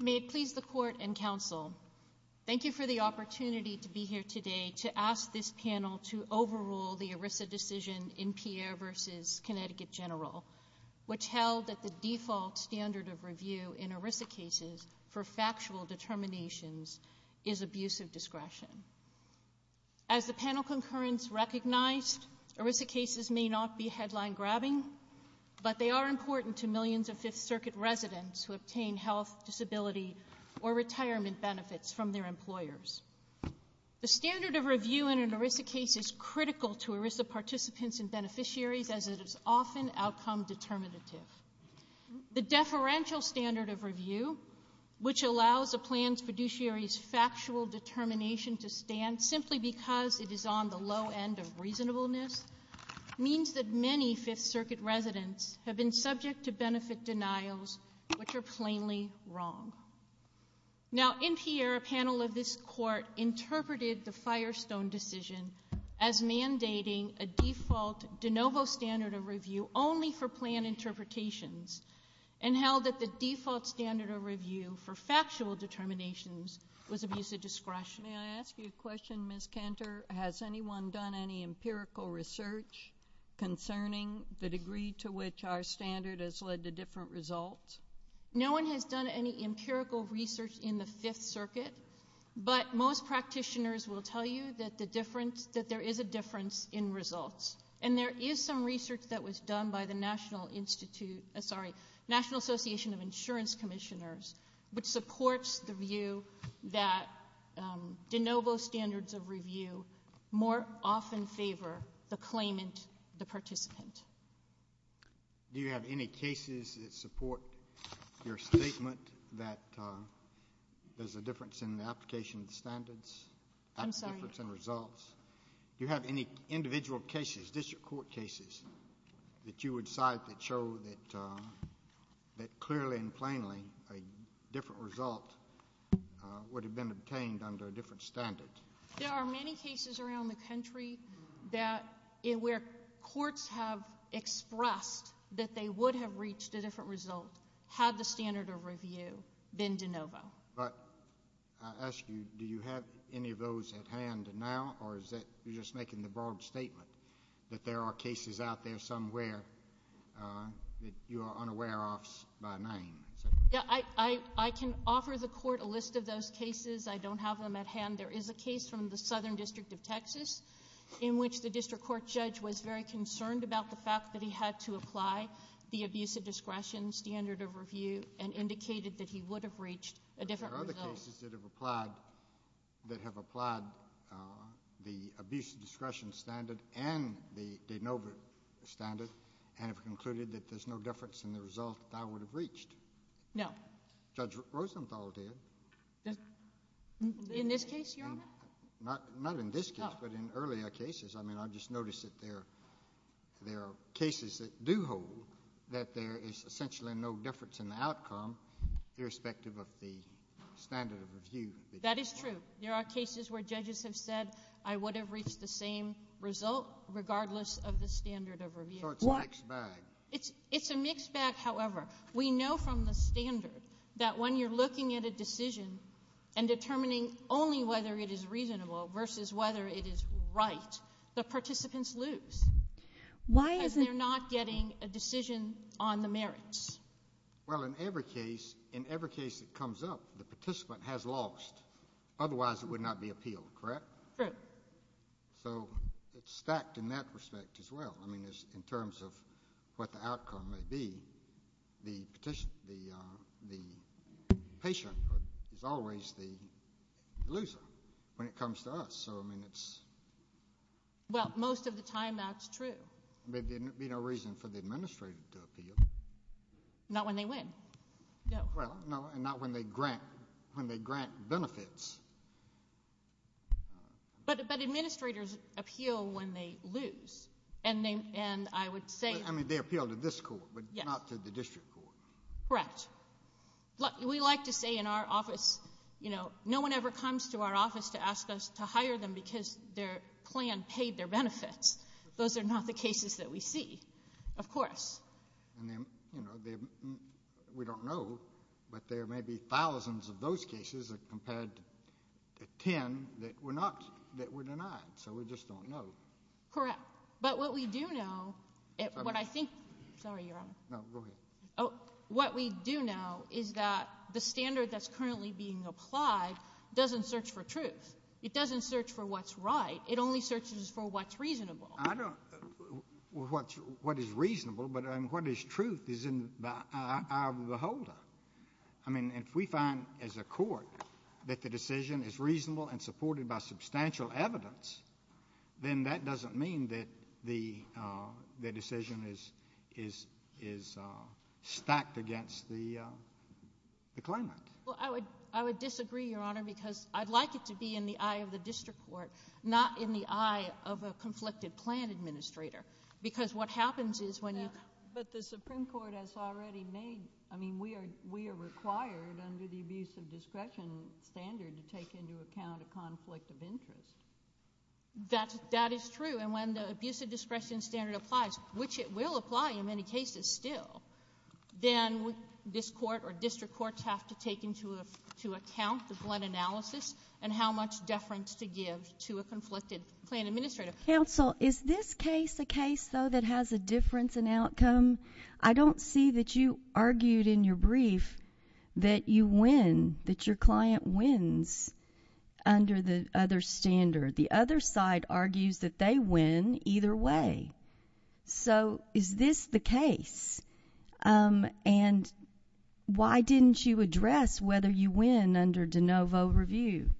May it please the Court and Counsel, thank you for the opportunity to be here today to ask this panel to overrule the ERISA decision in Pierre v. Connecticut General, which held that the default standard of review in ERISA cases for factual determinations is abuse of discretion. As the panel concurrence recognized, ERISA cases may not be headline-grabbing, but they are important to millions of Fifth Circuit residents who obtain health, disability, or retirement benefits from their employers. The standard of review in an ERISA case is critical to ERISA participants and beneficiaries as it is often outcome determinative. The deferential standard of review, which allows a plan's fiduciary's factual determination to stand simply because it is on the low end of reasonableness, means that many Fifth Circuit residents have been subject to benefit denials which are plainly wrong. Now in Pierre, a panel of this Court interpreted the Firestone decision as mandating a default de novo standard of review only for plan interpretations and held that the default standard of review for factual determinations was abuse of discretion. May I ask you a question, Ms. Cantor? Has anyone done any empirical research concerning the degree to which our standard has led to different results? No one has done any empirical research in the Fifth Circuit, but most practitioners will tell you that there is a difference in results. And there is some research that was done by the National Institute, sorry, National Association of Insurance Commissioners, which supports the view that de novo standards of review more often favor the claimant, the participant. Do you have any cases that support your statement that there is a difference in the application I'm sorry. There is a difference in results. Do you have any individual cases, district court cases, that you would cite that show that clearly and plainly a different result would have been obtained under a different standard? There are many cases around the country that where courts have expressed that they would have reached a different result had the standard of review been de novo. But I ask you, do you have any of those at hand now, or is that you're just making the broad statement that there are cases out there somewhere that you are unaware of by name? Yeah. I can offer the court a list of those cases. I don't have them at hand. There is a case from the Southern District of Texas in which the district court judge was very concerned about the fact that he had to apply the abuse of discretion standard of review and indicated that he would have reached a different result. There are other cases that have applied the abuse of discretion standard and the de novo standard and have concluded that there's no difference in the result that I would have reached. No. Judge Rosenthal did. In this case, Your Honor? Not in this case, but in earlier cases. I mean, I just noticed that there are cases that do hold that there is essentially no difference in the outcome, irrespective of the standard of review. That is true. There are cases where judges have said, I would have reached the same result regardless of the standard of review. So it's a mixed bag. It's a mixed bag, however. We know from the standard that when you're looking at a decision and determining only whether it is reasonable versus whether it is right, the participants lose. Why is it— Well, in every case, in every case that comes up, the participant has lost. Otherwise, it would not be appealed, correct? True. So it's stacked in that respect as well. I mean, in terms of what the outcome may be, the patient is always the loser when it comes to us. So, I mean, it's— Well, most of the time, that's true. There'd be no reason for the administrator to appeal. Not when they win. No. Well, no, and not when they grant benefits. But administrators appeal when they lose. And I would say— I mean, they appeal to this court, but not to the district court. Correct. We like to say in our office, you know, no one ever comes to our office to ask us to hire them because their plan paid their benefits. Those are not the cases that we see, of course. And then, you know, we don't know, but there may be thousands of those cases compared to ten that were not—that were denied, so we just don't know. Correct. But what we do know— Okay. What I think—sorry, Your Honor. No, go ahead. Oh, what we do know is that the standard that's currently being applied doesn't search for truth. It doesn't search for what's right. It only searches for what's reasonable. I don't—what is reasonable, but what is truth, is in the eye of the beholder. I mean, if we find as a court that the decision is reasonable and supported by substantial evidence, then that doesn't mean that the decision is stacked against the claimant. Well, I would disagree, Your Honor, because I'd like it to be in the eye of the district court, not in the eye of a conflicted plan administrator, because what happens is when you— No, but the Supreme Court has already made—I mean, we are required under the abuse of discretion standard to take into account a conflict of interest. That is true, and when the abuse of discretion standard applies, which it will apply in many cases still, then this court or district courts have to take into account the blood analysis and how much deference to give to a conflicted plan administrator. Counsel, is this case a case, though, that has a difference in outcome? I don't see that you argued in your brief that you win, that your client wins under the other standard. The other side argues that they win either way. So is this the case? And why didn't you address whether you win under de novo review?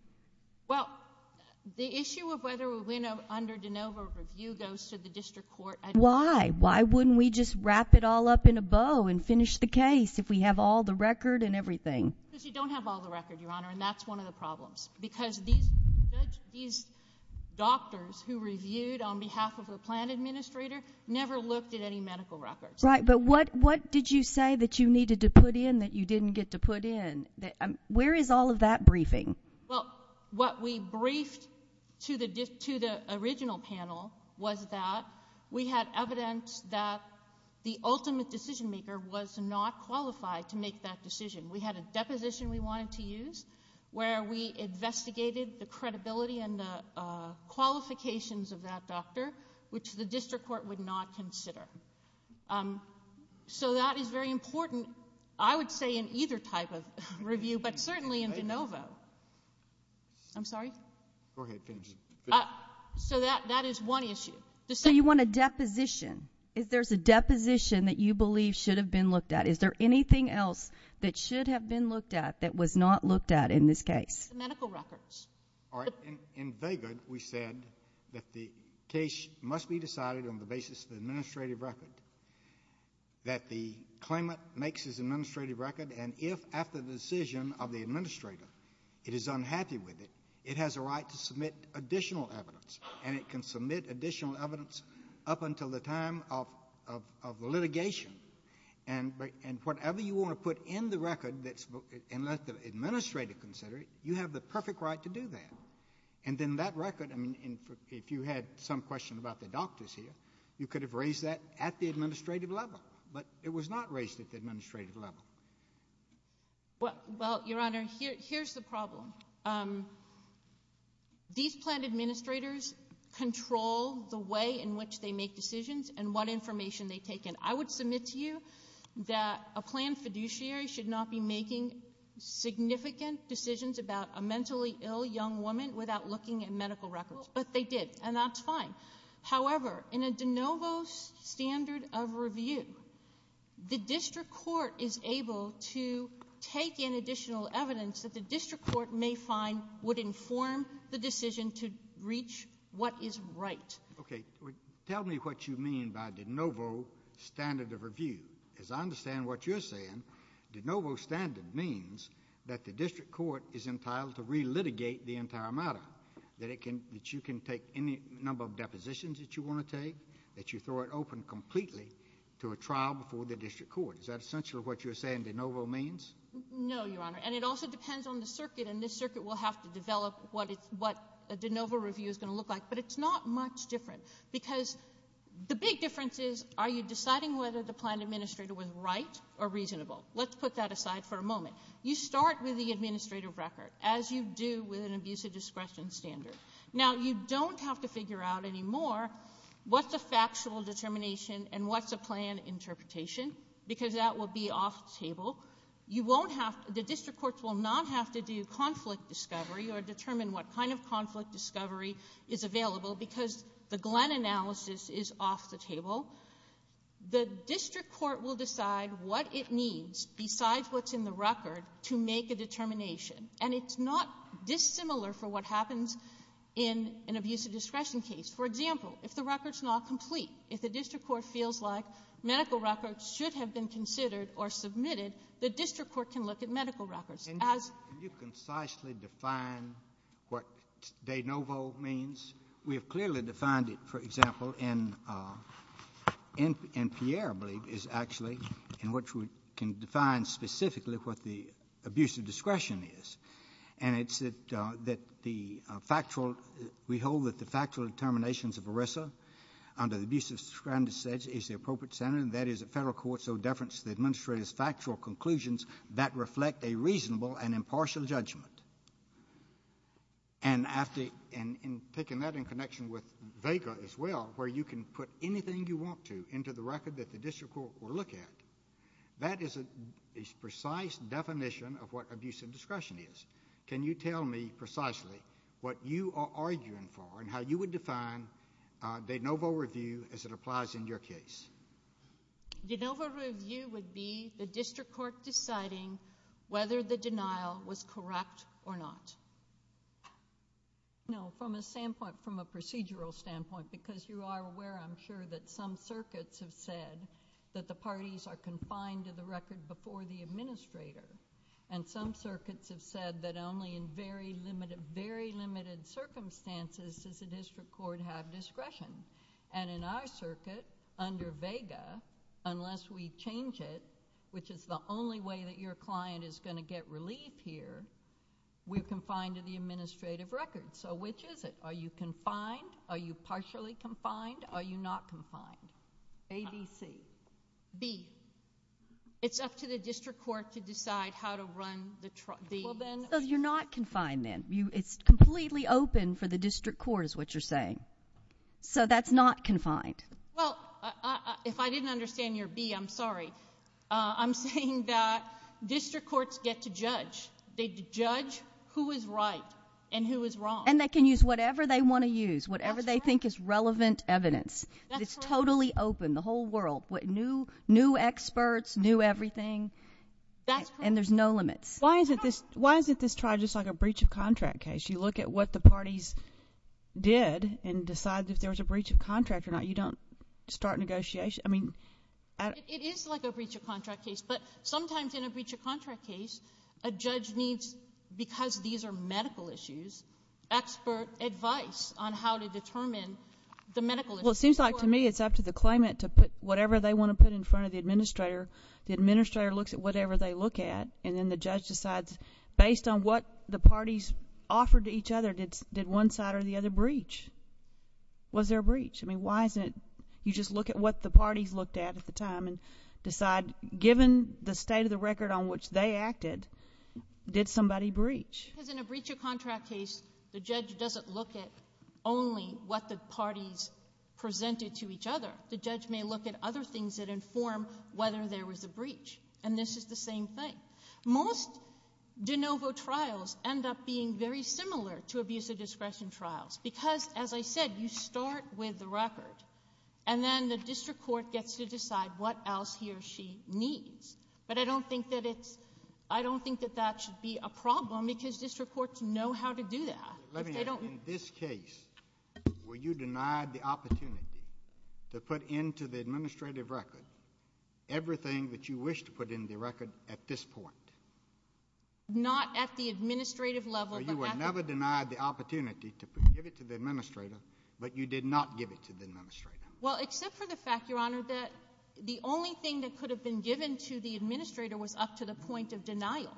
Well, the issue of whether we win under de novo review goes to the district court. Why? Why wouldn't we just wrap it all up in a bow and finish the case if we have all the record and everything? Because you don't have all the record, Your Honor, and that's one of the problems, because these doctors who reviewed on behalf of the plan administrator never looked at any medical records. Right. But what did you say that you needed to put in that you didn't get to put in? Where is all of that briefing? Well, what we briefed to the original panel was that we had evidence that the ultimate decision maker was not qualified to make that decision. We had a deposition we wanted to use where we investigated the credibility and the qualifications of that doctor, which the district court would not consider. So that is very important, I would say, in either type of review, but certainly in de novo. I'm sorry? Go ahead. Finish. So that is one issue. So you want a deposition. If there's a deposition that you believe should have been looked at, is there anything else that should have been looked at that was not looked at in this case? The medical records. All right. In Vegard, we said that the case must be decided on the basis of the administrative record, that the claimant makes his administrative record, and if after the decision of the administrator it is unhappy with it, it has a right to submit additional evidence, and it can submit additional evidence up until the time of litigation. And whatever you want to put in the record and let the administrator consider it, you have the perfect right to do that. And then that record, I mean, if you had some question about the doctors here, you could have raised that at the administrative level, but it was not raised at the administrative level. Well, Your Honor, here's the problem. These plan administrators control the way in which they make decisions and what information they take in. I would submit to you that a plan fiduciary should not be making significant decisions about a mentally ill young woman without looking at medical records, but they did, and that's fine. However, in a de novo standard of review, the district court is able to take in additional evidence that the district court may find would inform the decision to reach what is right. Okay. Tell me what you mean by de novo standard of review. As I understand what you're saying, de novo standard means that the district court is entitled to re-litigate the entire matter, that you can take any number of depositions that you want to take, that you throw it open completely to a trial before the district court. Is that essentially what you're saying de novo means? No, Your Honor, and it also depends on the circuit, and this circuit will have to develop what a de novo review is going to look like, but it's not much different because the big difference is, are you deciding whether the plan administrator was right or reasonable? Let's put that aside for a moment. You start with the administrative record, as you do with an abuse of discretion standard. Now you don't have to figure out anymore what's a factual determination and what's a plan interpretation, because that will be off the table. You won't have to, the district courts will not have to do conflict discovery or determine what kind of conflict discovery is available, because the Glenn analysis is off the table. The district court will decide what it needs, besides what's in the record, to make a determination, and it's not dissimilar for what happens in an abuse of discretion case. For example, if the record's not complete, if the district court feels like medical records should have been considered or submitted, the district court can look at medical records. Can you concisely define what de novo means? We have clearly defined it, for example, in Pierre, I believe, is actually, in which we can define specifically what the abuse of discretion is, and it's that the factual, we hold that the factual determinations of ERISA, under the abuse of discretion standards, is the appropriate standard, and that is that federal courts owe deference to the administrator's factual conclusions that reflect a reasonable and impartial judgment. And after, and taking that in connection with Vega as well, where you can put anything you want to into the record that the district court will look at, that is a precise definition of what abuse of discretion is. Can you tell me precisely what you are arguing for and how you would define de novo review as it applies in your case? De novo review would be the district court deciding whether the denial was correct or not. No. From a standpoint, from a procedural standpoint, because you are aware, I'm sure, that some circuits have said that the parties are confined to the record before the administrator, and some circuits have said that only in very limited, very limited circumstances does the unless we change it, which is the only way that your client is going to get relief here, we are confined to the administrative record. So which is it? Are you confined? Are you partially confined? Are you not confined? A, B, C. B. It's up to the district court to decide how to run the truck. B. So you are not confined then. It's completely open for the district court is what you are saying. So that's not confined. Well, if I didn't understand your B, I'm sorry. I'm saying that district courts get to judge. They judge who is right and who is wrong. And they can use whatever they want to use, whatever they think is relevant evidence. It's totally open, the whole world, new experts, new everything, and there's no limits. Why isn't this trial just like a breach of contract case? You look at what the parties did and decide if there was a breach of contract or not. You don't start negotiation. I mean... It is like a breach of contract case, but sometimes in a breach of contract case, a judge needs, because these are medical issues, expert advice on how to determine the medical issues. Well, it seems like to me it's up to the claimant to put whatever they want to put in front of the administrator. The administrator looks at whatever they look at and then the judge decides based on what the parties offered to each other, did one side or the other breach? Was there a breach? I mean, why isn't it you just look at what the parties looked at at the time and decide given the state of the record on which they acted, did somebody breach? Because in a breach of contract case, the judge doesn't look at only what the parties presented to each other. The judge may look at other things that inform whether there was a breach. And this is the same thing. Most de novo trials end up being very similar to abuse of discretion trials, because as I said, you start with the record and then the district court gets to decide what else he or she needs. But I don't think that it's... I don't think that that should be a problem because district courts know how to do that. Let me ask you, in this case, were you denied the opportunity to put into the administrative record everything that you wish to put in the record at this point? Not at the administrative level, but... But you did not give it to the administrator. Well, except for the fact, Your Honor, that the only thing that could have been given to the administrator was up to the point of denial.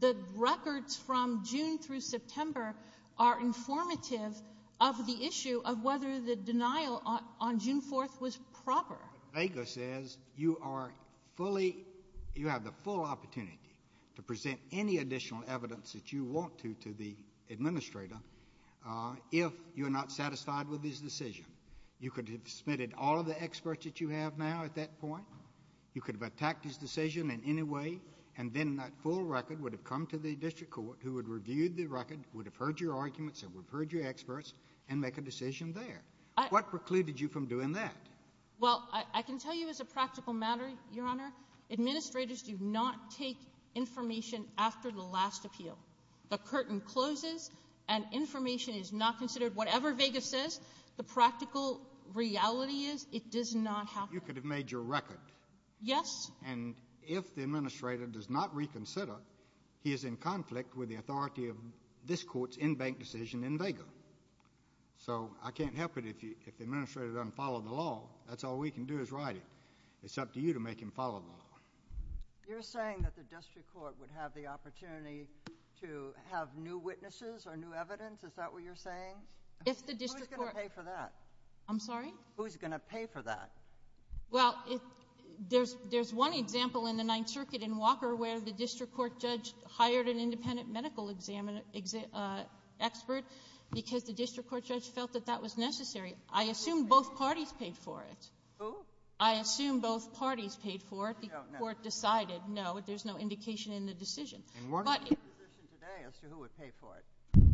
The records from June through September are informative of the issue of whether the denial on June 4th was proper. Vega says you are fully... you have the full opportunity to present any additional evidence that you want to to the administrator if you are not satisfied with his decision. You could have submitted all of the experts that you have now at that point. You could have attacked his decision in any way and then that full record would have come to the district court who would have reviewed the record, would have heard your arguments and would have heard your experts and make a decision there. What precluded you from doing that? Well, I can tell you as a practical matter, Your Honor, administrators do not take information after the last appeal. The curtain closes and information is not considered. Whatever Vega says, the practical reality is, it does not happen. You could have made your record. Yes. And if the administrator does not reconsider, he is in conflict with the authority of this court's in-bank decision in Vega. So I can't help it if the administrator doesn't follow the law. That's all we can do is write it. It's up to you to make him follow the law. You're saying that the district court would have the opportunity to have new witnesses or new evidence? Is that what you're saying? If the district court... Who's going to pay for that? I'm sorry? Who's going to pay for that? Well, there's one example in the Ninth Circuit in Walker where the district court judge hired an independent medical expert because the district court judge felt that that was necessary. I assume both parties paid for it. Who? I assume both parties paid for it. No, no. The district court decided, no, there's no indication in the decision. And what is your position today as to who would pay for it?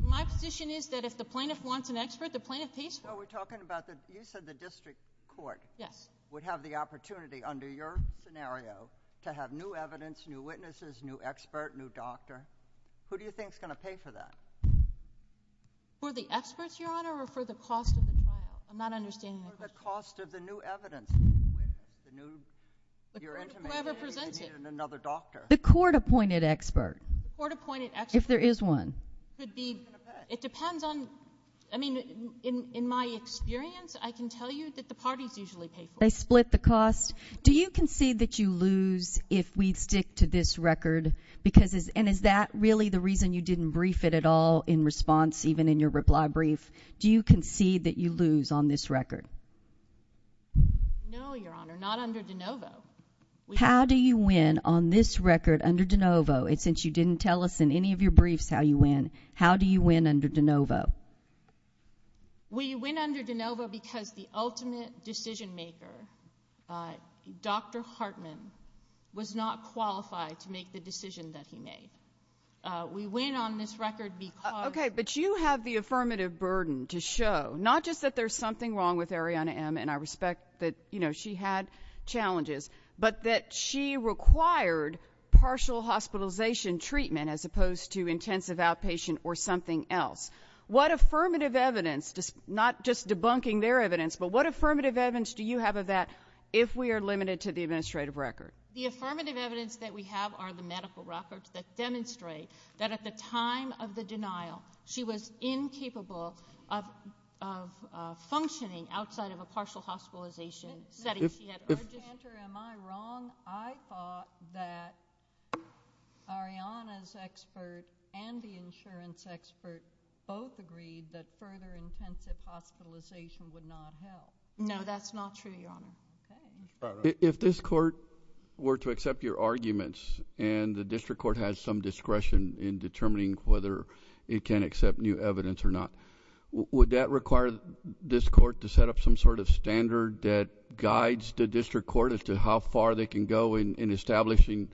My position is that if the plaintiff wants an expert, the plaintiff pays for it. No, we're talking about the use of the district court... Yes.... would have the opportunity under your scenario to have new evidence, new witnesses, new expert, new doctor. Who do you think is going to pay for that? For the experts, Your Honor, or for the cost of the trial? I'm not understanding the question. For the cost of the new evidence, the new... Whoever presents it.... you need another doctor. The court-appointed expert. The court-appointed expert. If there is one. It depends on... I mean, in my experience, I can tell you that the parties usually pay for it. They split the cost. Do you concede that you lose if we stick to this record? Because... and is that really the reason you didn't brief it at all in response, even I don't. I don't. I don't. I don't. I don't. I don't. I don't. I don't. I don't. No, Your Honor, not under DeNovo. How do you win on this record under DeNovo? And since you didn't tell us in any of your briefs how you win, how do you win under DeNovo? We win under DeNovo because the ultimate decision-maker, Dr. Hartman, was not qualified to make the decision that he made. We win on this record because... Okay, but you have the affirmative burden to show, not just that there's something wrong with Arianna M., and I respect that she had challenges, but that she required partial hospitalization treatment as opposed to intensive outpatient or something else. What affirmative evidence, not just debunking their evidence, but what affirmative evidence do you have of that if we are limited to the administrative record? The affirmative evidence that we have are the medical records that demonstrate that at the time of the denial, she was incapable of functioning outside of a partial hospitalization setting. If... Am I wrong? I thought that Arianna's expert and the insurance expert both agreed that further intensive hospitalization would not help. No, that's not true, Your Honor. Okay. If this court were to accept your arguments and the district court has some discretion in determining whether it can accept new evidence or not, would that require this court to set up some sort of standard that guides the district court as to how far they can go in establishing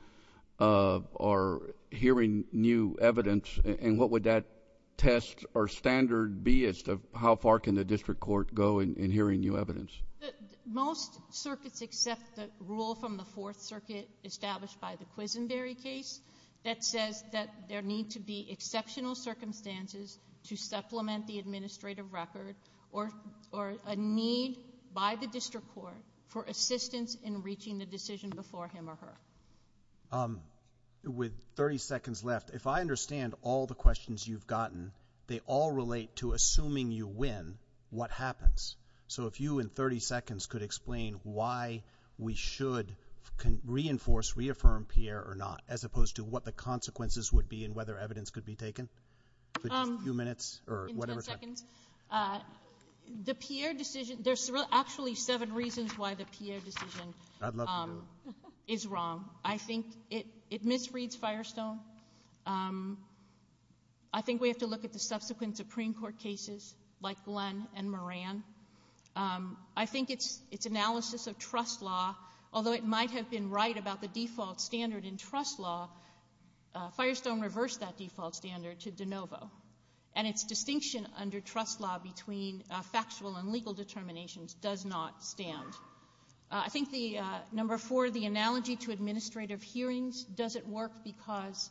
or hearing new evidence, and what would that test or standard be as to how far can the district court go in hearing new evidence? Most circuits accept the rule from the Fourth Circuit established by the Quisenberry case that says that there need to be exceptional circumstances to supplement the administrative record or a need by the district court for assistance in reaching the decision before him or her. With 30 seconds left, if I understand all the questions you've gotten, they all relate to assuming you win, what happens? So if you, in 30 seconds, could explain why we should reinforce, reaffirm Pierre or not, as opposed to what the consequences would be and whether evidence could be taken. A few minutes or whatever. In 10 seconds. The Pierre decision, there's actually seven reasons why the Pierre decision is wrong. I think it misreads Firestone. I think we have to look at the subsequent Supreme Court cases, like Glenn and Moran. I think its analysis of trust law, although it might have been right about the default standard in trust law, Firestone reversed that default standard to DeNovo, and its distinction under trust law between factual and legal determinations does not stand. I think the number four, the analogy to administrative hearings doesn't work because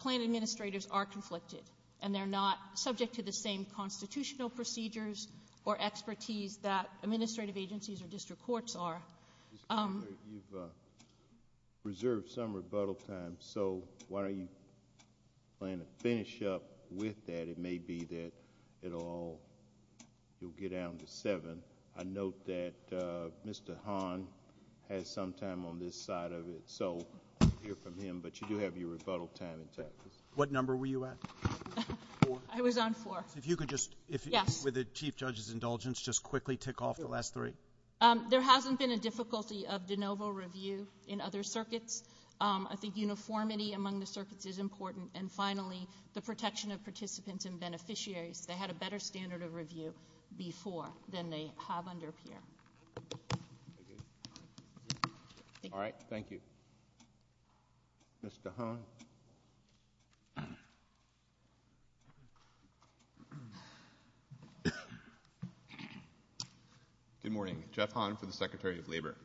plan administrators are conflicted, and they're not subject to the same constitutional procedures or expertise that administrative agencies or district courts are. You've reserved some rebuttal time, so why don't you plan to finish up with that? It may be that it all will get down to seven. I note that Mr. Hahn has some time on this side of it, so we'll hear from him, but you do have your rebuttal time intact. What number were you at? Four. I was on four. If you could just, with the Chief Judge's indulgence, just quickly tick off the last three. There hasn't been a difficulty of DeNovo review in other circuits. I think uniformity among the circuits is important. And finally, the protection of participants and beneficiaries. They had a better standard of review before than they have under Pierre. All right. Thank you. Mr. Hahn. Good morning. Jeff Hahn for the Secretary of Labor.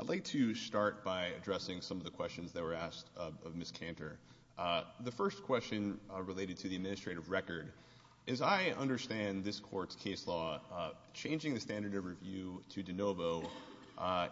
I'd like to start by addressing some of the questions that were asked of Ms. Cantor. The first question related to the administrative record. As I understand this Court's case law, changing the standard of review to DeNovo,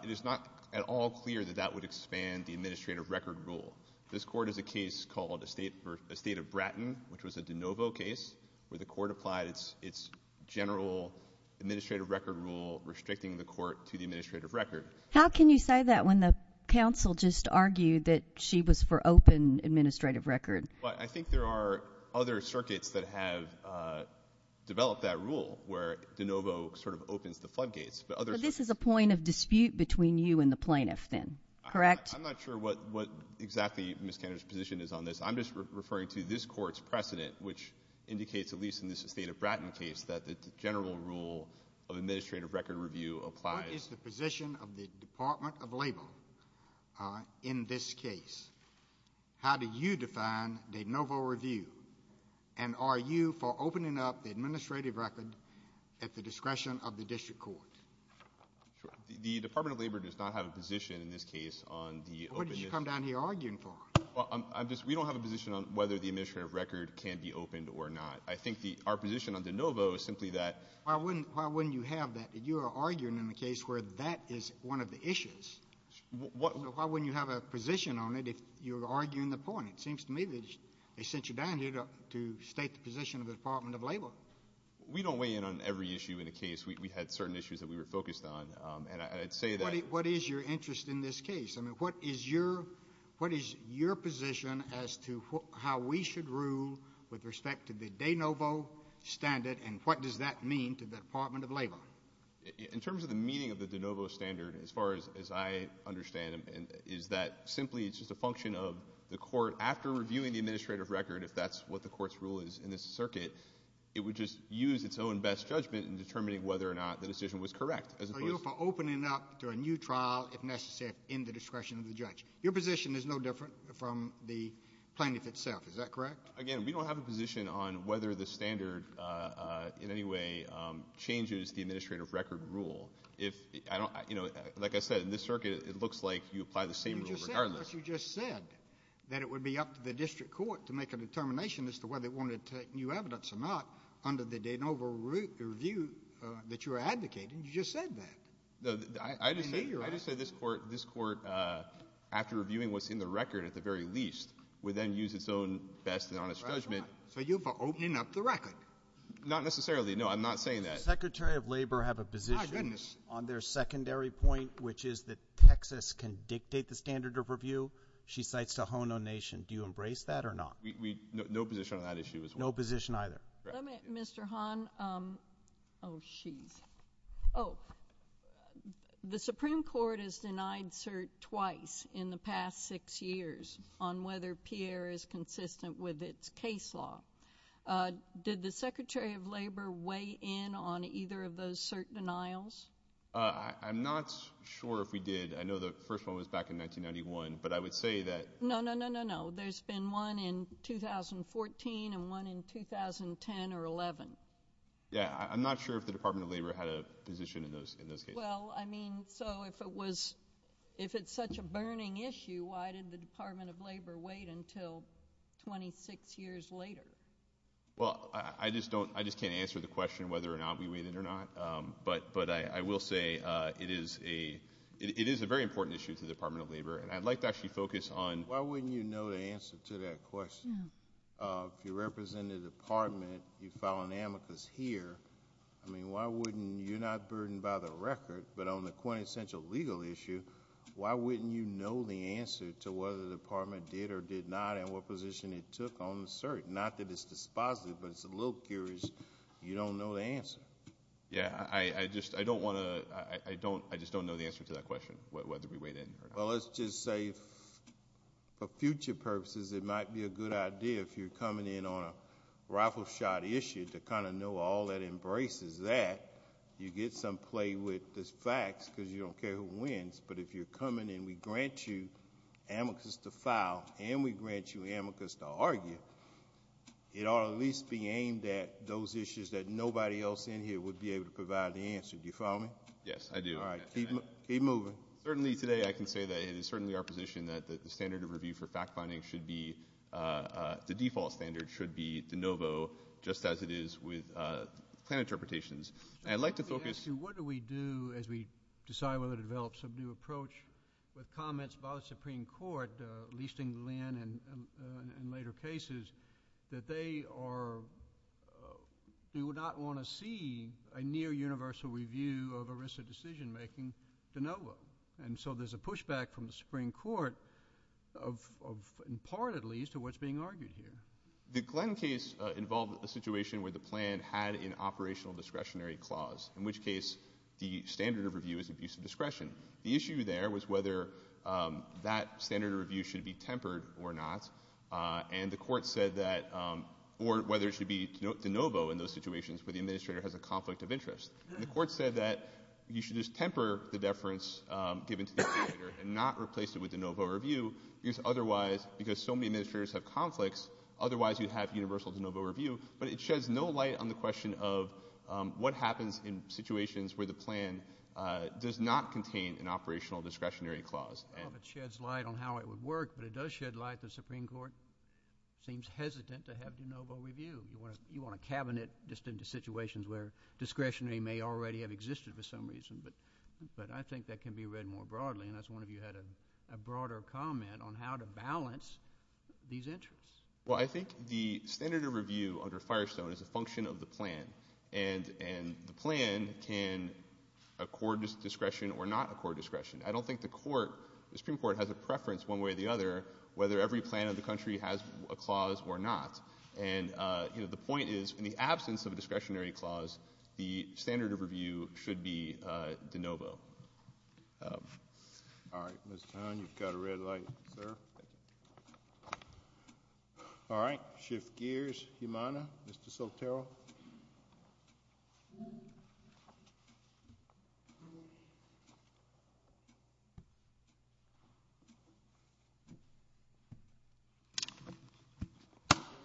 it is not at all clear that that would expand the administrative record rule. This Court has a case called Estate of Bratton, which was a DeNovo case, where the Court applied its general administrative record rule, restricting the Court to the administrative record. How can you say that when the counsel just argued that she was for open administrative record? I think there are other circuits that have developed that rule, where DeNovo sort of opens the floodgates. But this is a point of dispute between you and the plaintiff then, correct? I'm not sure what exactly Ms. Cantor's position is on this. I'm just referring to this Court's precedent, which indicates, at least in this Estate of Bratton case, that the general rule of administrative record review applies. What is the position of the Department of Labor in this case? How do you define DeNovo review? And are you for opening up the administrative record at the discretion of the district court? The Department of Labor does not have a position in this case on the open— What did you come down here arguing for? We don't have a position on whether the administrative record can be opened or not. I think our position on DeNovo is simply that— Why wouldn't you have that? You are arguing in a case where that is one of the issues. Why wouldn't you have a position on it if you're arguing the point? It seems to me that they sent you down here to state the position of the Department of Labor. We don't weigh in on every issue in the case. We had certain issues that we were focused on, and I'd say that— What is your interest in this case? I mean, what is your position as to how we should rule with respect to the DeNovo standard and what does that mean to the Department of Labor? In terms of the meaning of the DeNovo standard, as far as I understand it, is that simply it's just a function of the court, after reviewing the administrative record, if that's what the court's rule is in this circuit, it would just use its own best judgment in determining whether or not the decision was correct. Are you for opening up to a new trial, if necessary, in the discretion of the judge? Your position is no different from the plaintiff itself. Is that correct? Again, we don't have a position on whether the standard in any way changes the administrative record rule. Like I said, in this circuit, it looks like you apply the same rule regardless. But you just said that it would be up to the district court to make a determination as to whether it wanted to take new evidence or not under the DeNovo review that you were advocating. You just said that. I just said this court, after reviewing what's in the record at the very least, would then use its own best and honest judgment. So you're for opening up the record? Not necessarily. No, I'm not saying that. Does the Secretary of Labor have a position on their secondary point, which is that Texas can dictate the standard of review? She cites the Hono Nation. Do you embrace that or not? No position on that issue as well. No position either. Mr. Hahn, oh, jeez. Oh, the Supreme Court has denied cert twice in the past six years on whether Pierre is consistent with its case law. Did the Secretary of Labor weigh in on either of those cert denials? I'm not sure if we did. I know the first one was back in 1991, but I would say that— No, no, no, no, no. There's been one in 2014 and one in 2010 or 11. Yeah, I'm not sure if the Department of Labor had a position in those cases. Well, I mean, so if it's such a burning issue, why did the Department of Labor wait until 26 years later? Well, I just can't answer the question whether or not we waited or not. But I will say it is a very important issue to the Department of Labor, and I'd like to actually focus on— Why wouldn't you know the answer to that question? If you represent a department, you file an amicus here, I mean, you're not burdened by the record, but on the quintessential legal issue, why wouldn't you know the answer to whether the department did or did not and what position it took on the cert? Not that it's dispositive, but it's a little curious. You don't know the answer. Yeah, I just don't know the answer to that question, whether we weighed in or not. Well, let's just say for future purposes, it might be a good idea if you're coming in on a rifle shot issue to kind of know all that embraces that. You get some play with the facts because you don't care who wins, but if you're coming and we grant you amicus to file and we grant you amicus to argue, it ought to at least be aimed at those issues that nobody else in here would be able to provide the answer. Do you follow me? Yes, I do. All right, keep moving. Certainly today I can say that it is certainly our position that the standard of review for fact-finding should be, the default standard should be de novo, just as it is with plan interpretations. I'd like to focus. What do we do as we decide whether to develop some new approach with comments about the Supreme Court, at least in Glenn and later cases, that they are, we would not want to see a near universal review of a risk of decision-making de novo? And so there's a pushback from the Supreme Court, in part at least, of what's being argued here. The Glenn case involved a situation where the plan had an operational discretionary clause, in which case the standard of review is abuse of discretion. The issue there was whether that standard of review should be tempered or not, and the court said that, or whether it should be de novo in those situations where the administrator has a conflict of interest. The court said that you should just temper the deference given to the administrator and not replace it with de novo review, because otherwise, because so many administrators have conflicts, otherwise you'd have universal de novo review, but it sheds no light on the question of what happens in situations where the plan does not contain an operational discretionary clause. Well, if it sheds light on how it would work, but it does shed light, the Supreme Court seems hesitant to have de novo review. You want to cabinet just into situations where the discretionary may already have existed for some reason, but I think that can be read more broadly, and I was wondering if you had a broader comment on how to balance these interests. Well, I think the standard of review under Firestone is a function of the plan, and the plan can accord discretion or not accord discretion. I don't think the Supreme Court has a preference one way or the other whether every plan of the country has a clause or not, and the point is, in the absence of a discretionary clause, the standard of review should be de novo. All right, Mr. Tan, you've got a red light, sir. All right, shift gears. Jimana, Mr. Soltero.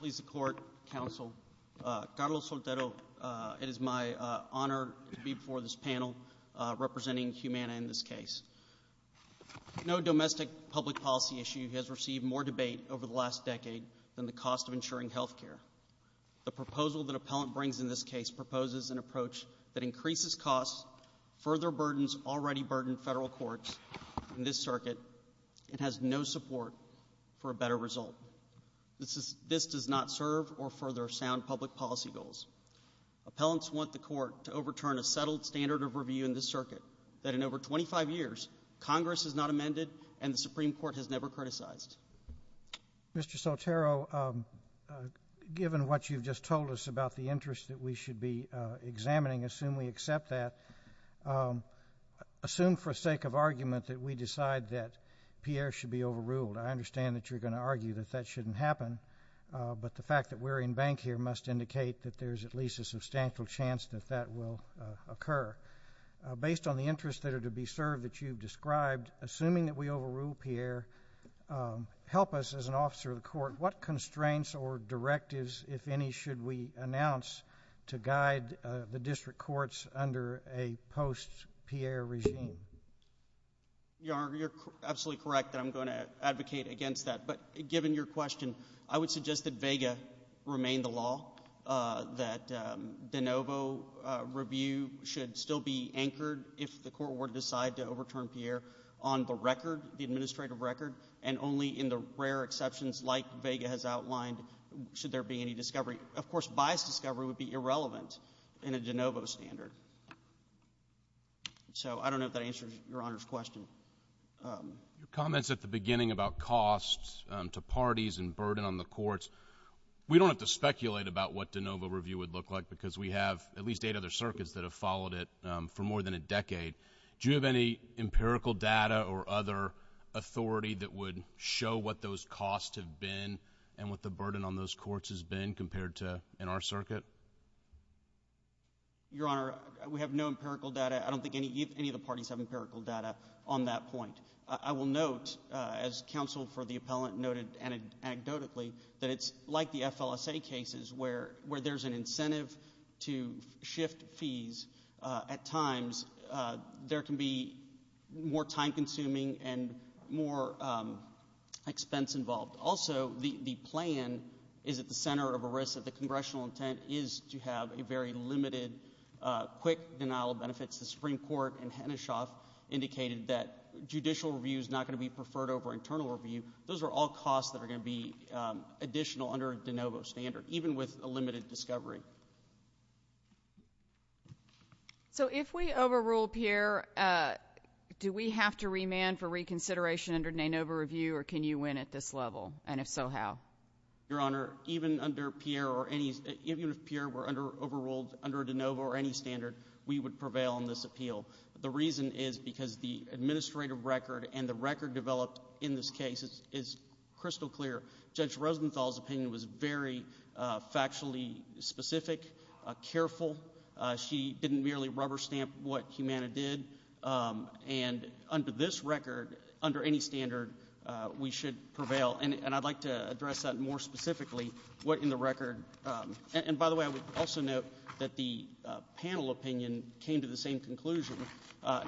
Please support, counsel. Carlos Soltero, it is my honor to be before this panel representing Jimana in this case. No domestic public policy issue has received more debate over the last decade than the cost of insuring health care. The proposal that appellant brings in this case proposes an approach that increases costs, further burdens already burdened federal courts in this circuit, and has no support for a better result. This does not serve or further sound public policy goals. Appellants want the court to overturn a settled standard of review in this circuit that in over 25 years Congress has not amended and the Supreme Court has never criticized. Mr. Soltero, given what you've just told us about the interest that we should be examining, assume we accept that. Assume for sake of argument that we decide that Pierre should be overruled. I understand that you're going to argue that that shouldn't happen, but the fact that we're in bank here must indicate that there's at least a substantial chance that that will occur. Based on the interests that are to be served that you've described, assuming that we overrule Pierre, help us as an officer of the court, what constraints or directives, if any, should we announce to guide the district courts under a post-Pierre regime? Your Honor, you're absolutely correct that I'm going to advocate against that. But given your question, I would suggest that vega remain the law, that de novo review should still be anchored if the court were to decide to overturn Pierre on the record, the administrative record, and only in the rare exceptions like vega has outlined should there be any discovery. Of course, biased discovery would be irrelevant in a de novo standard. So I don't know if that answers Your Honor's question. Your comments at the beginning about costs to parties and burden on the courts, we don't have to speculate about what de novo review would look like because we have at least eight other circuits that have followed it for more than a decade. Do you have any empirical data or other authority that would show what those costs have been and what the burden on those courts has been compared to in our circuit? Your Honor, we have no empirical data. I don't think any of the parties have empirical data on that point. I will note, as counsel for the appellant noted anecdotally, that it's like the FLSA cases where there's an incentive to shift fees at times. There can be more time-consuming and more expense involved. Also, the plan is at the center of a risk that the congressional intent is to have a very limited quick denial of benefits. The Supreme Court in Heneshoff indicated that judicial review is not going to be preferred over internal review. Those are all costs that are going to be additional under a de novo standard, even with a limited discovery. So if we overrule Pierre, do we have to remand for reconsideration under de novo review or can you win at this level, and if so, how? Your Honor, even if Pierre were overruled under de novo or any standard, we would prevail on this appeal. The reason is because the administrative record and the record developed in this case is crystal clear. Judge Rosenthal's opinion was very factually specific, careful. She didn't merely rubber stamp what Humana did. Under this record, under any standard, we should prevail, and I'd like to address that more specifically. By the way, I would also note that the panel opinion came to the same conclusion.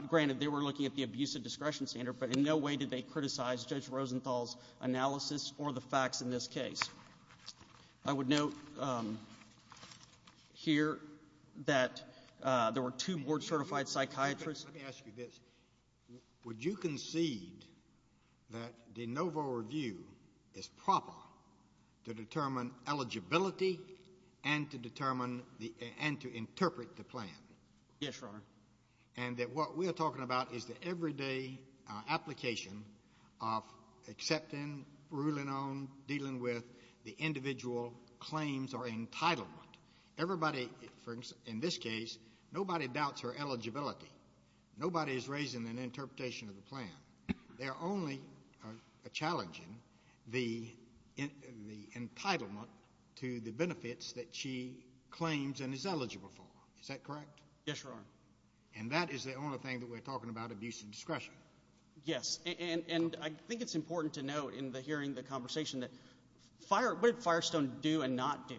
Granted, they were looking at the abuse of discretion standard, but in no way did they criticize Judge Rosenthal's analysis or the facts in this case. I would note here that there were two board-certified psychiatrists. Let me ask you this. Would you concede that de novo review is proper to determine eligibility and to interpret the plan? Yes, Your Honor. And that what we are talking about is the everyday application of accepting, ruling on, dealing with the individual claims or entitlement. In this case, nobody doubts her eligibility. Nobody is raising an interpretation of the plan. They are only challenging the entitlement to the benefits that she claims and is eligible for. Is that correct? Yes, Your Honor. And that is the only thing that we're talking about, abuse of discretion. Yes, and I think it's important to note in hearing the conversation that what did Firestone do and not do?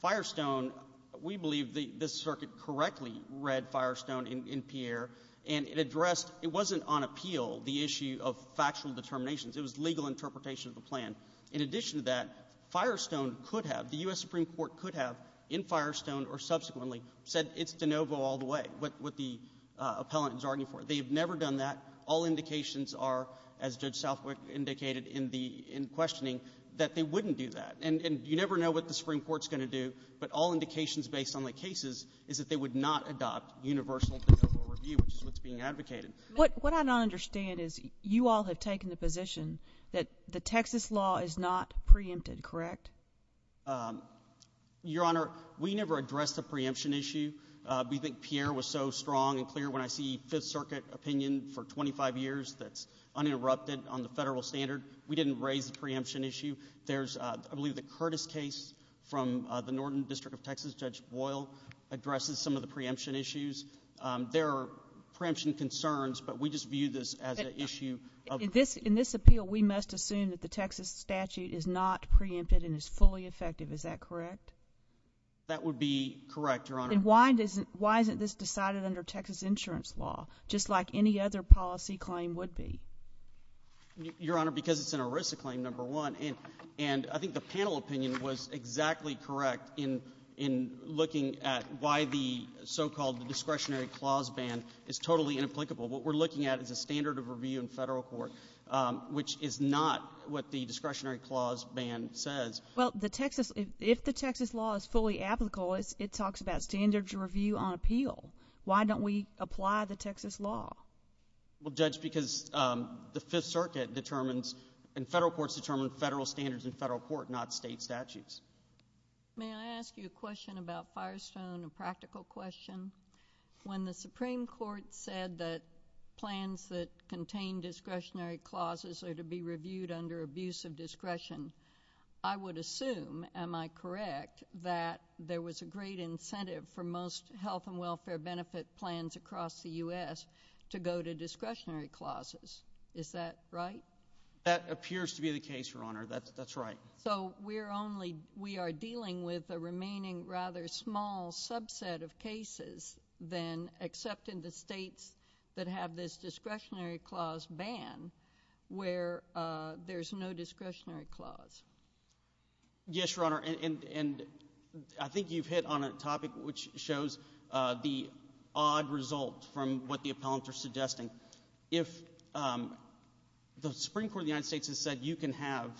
Firestone, we believe this circuit correctly read Firestone in Pierre, and it addressed, it wasn't on appeal, the issue of factual determinations. It was legal interpretation of the plan. In addition to that, Firestone could have, the U.S. Supreme Court could have, in Firestone or subsequently, said it's de novo all the way, what the appellant is arguing for. They have never done that. All indications are, as Judge Southwick indicated in questioning, that they wouldn't do that. And you never know what the Supreme Court is going to do, but all indications based on the cases is that they would not adopt universal de novo review, which is what's being advocated. What I don't understand is you all have taken the position that the Texas law is not preempted, correct? Your Honor, we never addressed the preemption issue. We think Pierre was so strong and clear. When I see Fifth Circuit opinion for 25 years that's uninterrupted on the federal standard, we didn't raise the preemption issue. I believe the Curtis case from the Northern District of Texas, Judge Boyle addresses some of the preemption issues. There are preemption concerns, but we just view this as an issue. In this appeal, we must assume that the Texas statute is not preempted and is fully effective, is that correct? That would be correct, Your Honor. And why isn't this decided under Texas insurance law, just like any other policy claim would be? Your Honor, because it's an ERISA claim, number one, and I think the panel opinion was exactly correct in looking at why the so-called discretionary clause ban is totally inapplicable. What we're looking at is a standard of review in federal court, which is not what the discretionary clause ban says. Well, if the Texas law is fully applicable, it talks about standards review on appeal. Why don't we apply the Texas law? Well, Judge, because the Fifth Circuit determines and federal courts determine federal standards in federal court, not state statutes. May I ask you a question about Firestone, a practical question? When the Supreme Court said that plans that contain discretionary clauses are to be reviewed under abuse of discretion, I would assume, am I correct, that there was a great incentive for most health and welfare benefit plans across the U.S. to go to discretionary clauses, is that right? That appears to be the case, Your Honor. That's right. So we are dealing with a remaining rather small subset of cases than except in the states that have this discretionary clause ban where there's no discretionary clause? Yes, Your Honor, and I think you've hit on a topic If the Supreme Court of the United States has said you can have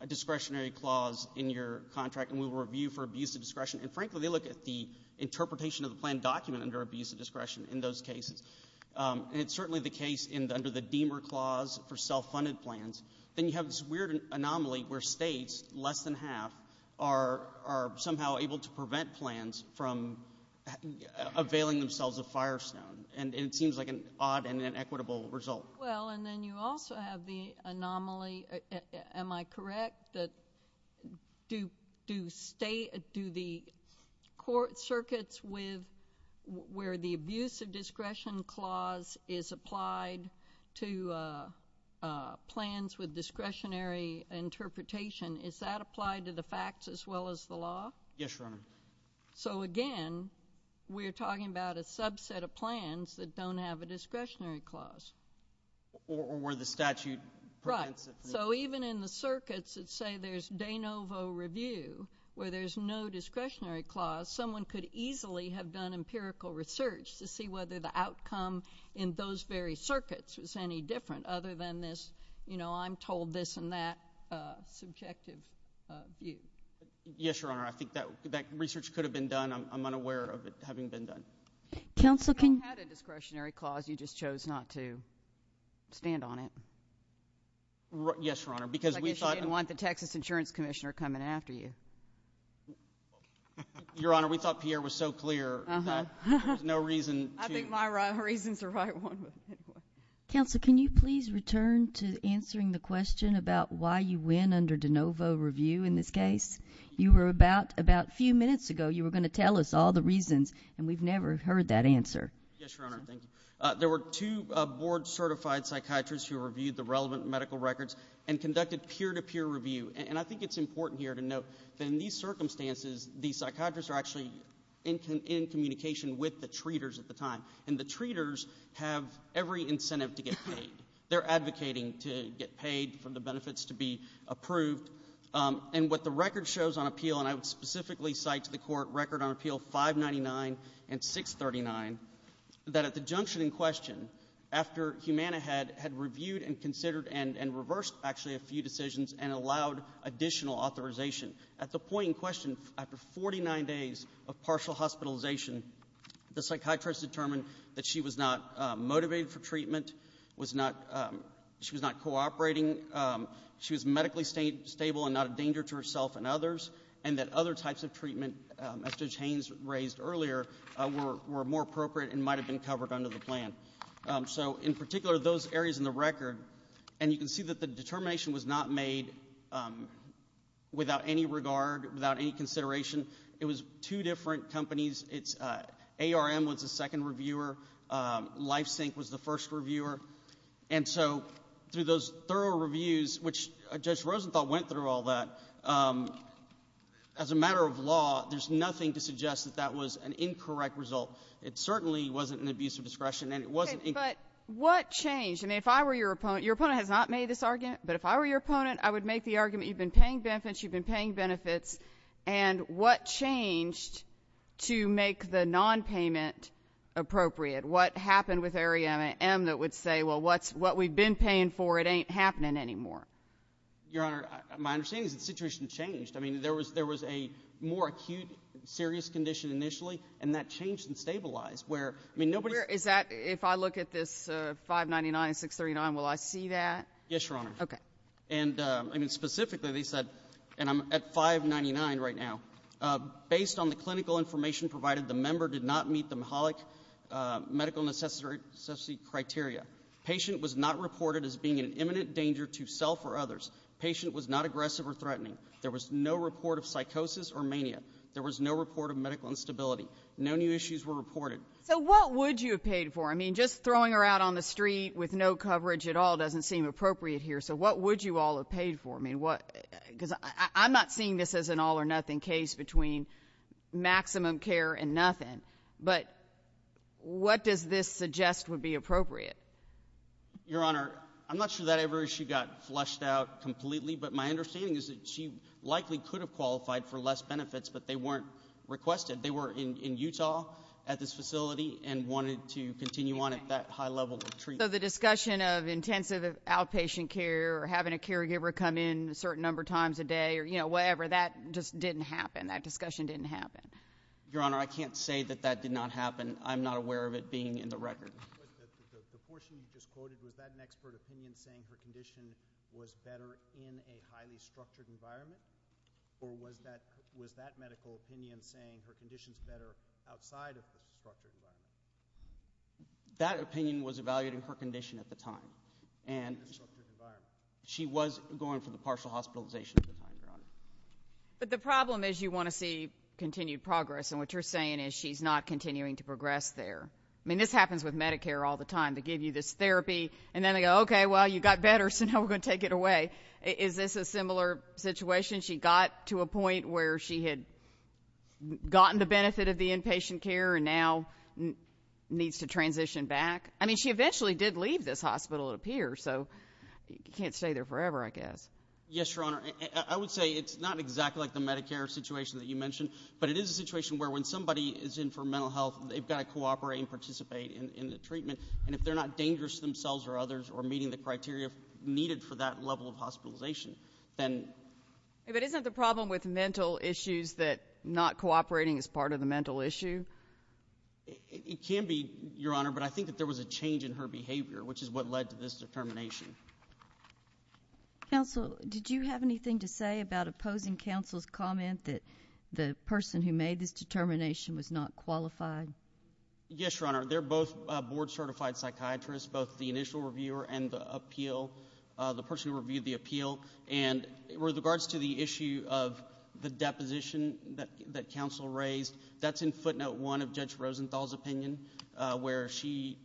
a discretionary clause in your contract and we will review for abuse of discretion, and frankly they look at the interpretation of the plan document under abuse of discretion in those cases, and it's certainly the case under the Deamer Clause for self-funded plans, then you have this weird anomaly where states, less than half, are somehow able to prevent plans from availing themselves of Firestone. And it seems like an odd and inequitable result. Well, and then you also have the anomaly, am I correct, that do the court circuits where the abuse of discretion clause is applied to plans with discretionary interpretation, is that applied to the facts as well as the law? Yes, Your Honor. So, again, we're talking about a subset of plans that don't have a discretionary clause. Or where the statute prevents it. Right, so even in the circuits that say there's de novo review where there's no discretionary clause, someone could easily have done empirical research to see whether the outcome in those very circuits was any different other than this, you know, I'm told this and that subjective view. Yes, Your Honor, I think that research could have been done. I'm unaware of it having been done. Counsel, can you... You had a discretionary clause, you just chose not to stand on it. Yes, Your Honor, because we thought... I guess you didn't want the Texas Insurance Commissioner coming after you. Your Honor, we thought Pierre was so clear that there was no reason to... I think my reasons are right. Counsel, can you please return to answering the question about why you went under de novo review in this case? You were about a few minutes ago, you were going to tell us all the reasons, and we've never heard that answer. Yes, Your Honor, thank you. There were two board-certified psychiatrists who reviewed the relevant medical records and conducted peer-to-peer review. And I think it's important here to note that in these circumstances, the psychiatrists are actually in communication with the treaters at the time. And the treaters have every incentive to get paid. They're advocating to get paid for the benefits to be approved. And what the record shows on appeal, and I would specifically cite to the court record on appeal 599 and 639, that at the junction in question, after Humana had reviewed and considered and reversed actually a few decisions and allowed additional authorization, at the point in question, after 49 days of partial hospitalization, the psychiatrist determined that she was not motivated for treatment, she was not cooperating, she was medically stable and not a danger to herself and others, and that other types of treatment, as Judge Haynes raised earlier, were more appropriate and might have been covered under the plan. So in particular, those areas in the record, and you can see that the determination was not made without any regard, without any consideration. It was two different companies. ARM was the second reviewer. LifeSync was the first reviewer. And so through those thorough reviews, which Judge Rosenthal went through all that, as a matter of law, there's nothing to suggest that that was an incorrect result. It certainly wasn't an abuse of discretion and it wasn't incorrect. But what changed? And if I were your opponent, your opponent has not made this argument, but if I were your opponent, I would make the argument you've been paying benefits, you've been paying benefits, and what changed to make the nonpayment appropriate? What happened with Area M that would say, well, what we've been paying for, it ain't happening anymore? Your Honor, my understanding is the situation changed. I mean, there was a more acute serious condition initially, and that changed and stabilized, where, I mean, nobody's ---- Is that, if I look at this 599 and 639, will I see that? Yes, Your Honor. Okay. And specifically, they said, and I'm at 599 right now, based on the clinical information provided, the member did not meet the MHOLIC medical necessity criteria. Patient was not reported as being in imminent danger to self or others. Patient was not aggressive or threatening. There was no report of psychosis or mania. There was no report of medical instability. No new issues were reported. So what would you have paid for? I mean, just throwing her out on the street with no coverage at all doesn't seem appropriate here, so what would you all have paid for? I'm not seeing this as an all-or-nothing case between maximum care and nothing, but what does this suggest would be appropriate? Your Honor, I'm not sure that every issue got flushed out completely, but my understanding is that she likely could have qualified for less benefits, but they weren't requested. They were in Utah at this facility and wanted to continue on at that high level of treatment. So the discussion of intensive outpatient care or having a caregiver come in a certain number of times a day or, you know, whatever, that just didn't happen. That discussion didn't happen. Your Honor, I can't say that that did not happen. I'm not aware of it being in the record. But the portion you just quoted, was that an expert opinion saying her condition was better in a highly structured environment, or was that medical opinion saying her condition is better outside of the structured environment? That opinion was evaluating her condition at the time, and she was going for the partial hospitalization at the time, Your Honor. But the problem is you want to see continued progress, and what you're saying is she's not continuing to progress there. I mean, this happens with Medicare all the time. They give you this therapy, and then they go, okay, well, you got better, so now we're going to take it away. Is this a similar situation? She got to a point where she had gotten the benefit of the inpatient care and now needs to transition back. I mean, she eventually did leave this hospital, it appears, so you can't stay there forever, I guess. Yes, Your Honor. I would say it's not exactly like the Medicare situation that you mentioned, but it is a situation where when somebody is in for mental health, they've got to cooperate and participate in the treatment. And if they're not dangerous to themselves or others or meeting the criteria needed for that level of hospitalization, then— But isn't the problem with mental issues that not cooperating is part of the mental issue? It can be, Your Honor, but I think that there was a change in her behavior, which is what led to this determination. Counsel, did you have anything to say about opposing counsel's comment that the person who made this determination was not qualified? Yes, Your Honor. They're both board-certified psychiatrists, both the initial reviewer and the person who reviewed the appeal. And with regards to the issue of the deposition that counsel raised, that's in footnote 1 of Judge Rosenthal's opinion, where she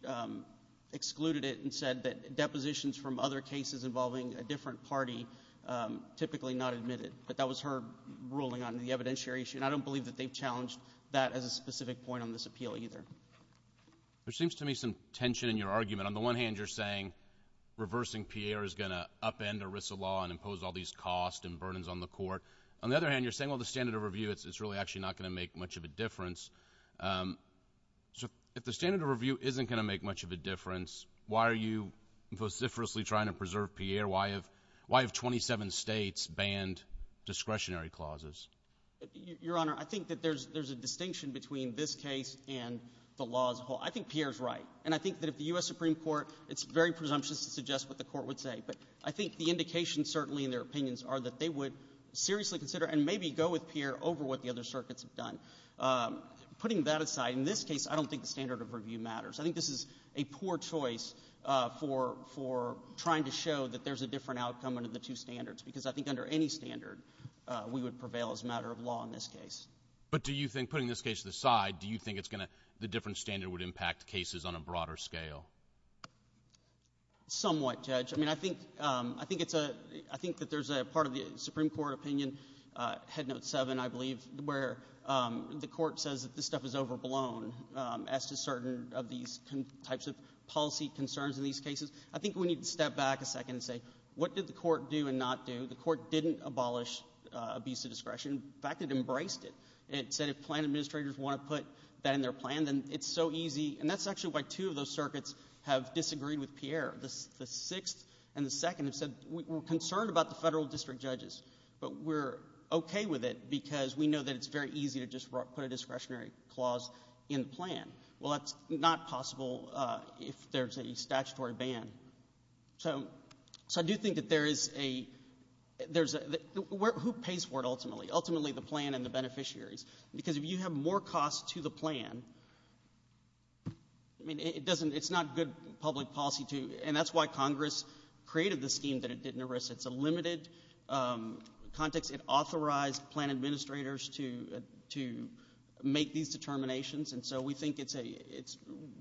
excluded it and said that depositions from other cases involving a different party typically not admitted. But that was her ruling on the evidentiary issue, and I don't believe that they've challenged that as a specific point on this appeal either. There seems to me some tension in your argument. On the one hand, you're saying reversing Pierre is going to upend ERISA law and impose all these costs and burdens on the court. On the other hand, you're saying, well, the standard of review, it's really actually not going to make much of a difference. If the standard of review isn't going to make much of a difference, why are you vociferously trying to preserve Pierre? Why have 27 states banned discretionary clauses? Your Honor, I think that there's a distinction between this case and the law as a whole. I think Pierre's right, and I think that if the U.S. Supreme Court is very presumptuous to suggest what the court would say, but I think the indication certainly in their opinions are that they would seriously consider and maybe go with Pierre over what the other circuits have done. Putting that aside, in this case, I don't think the standard of review matters. I think this is a poor choice for trying to show that there's a different outcome under the two standards, because I think under any standard, we would prevail as a matter of law in this case. But do you think, putting this case to the side, do you think the different standard would impact cases on a broader scale? Somewhat, Judge. I think that there's a part of the Supreme Court opinion, Head Note 7, I believe, where the court says that this stuff is overblown as to certain of these types of policy concerns in these cases. I think we need to step back a second and say, what did the court do and not do? The court didn't abolish abuse of discretion. In fact, it embraced it. It said if plan administrators want to put that in their plan, then it's so easy. And that's actually why two of those circuits have disagreed with Pierre. The sixth and the second have said, we're concerned about the federal district judges, but we're okay with it because we know that it's very easy to just put a discretionary clause in the plan. Well, that's not possible if there's a statutory ban. So I do think that there is a—who pays for it ultimately? Ultimately, the plan and the beneficiaries. Because if you have more costs to the plan, I mean, it's not good public policy to— and that's why Congress created the scheme that it didn't erase. It's a limited context. It authorized plan administrators to make these determinations, and so we think it's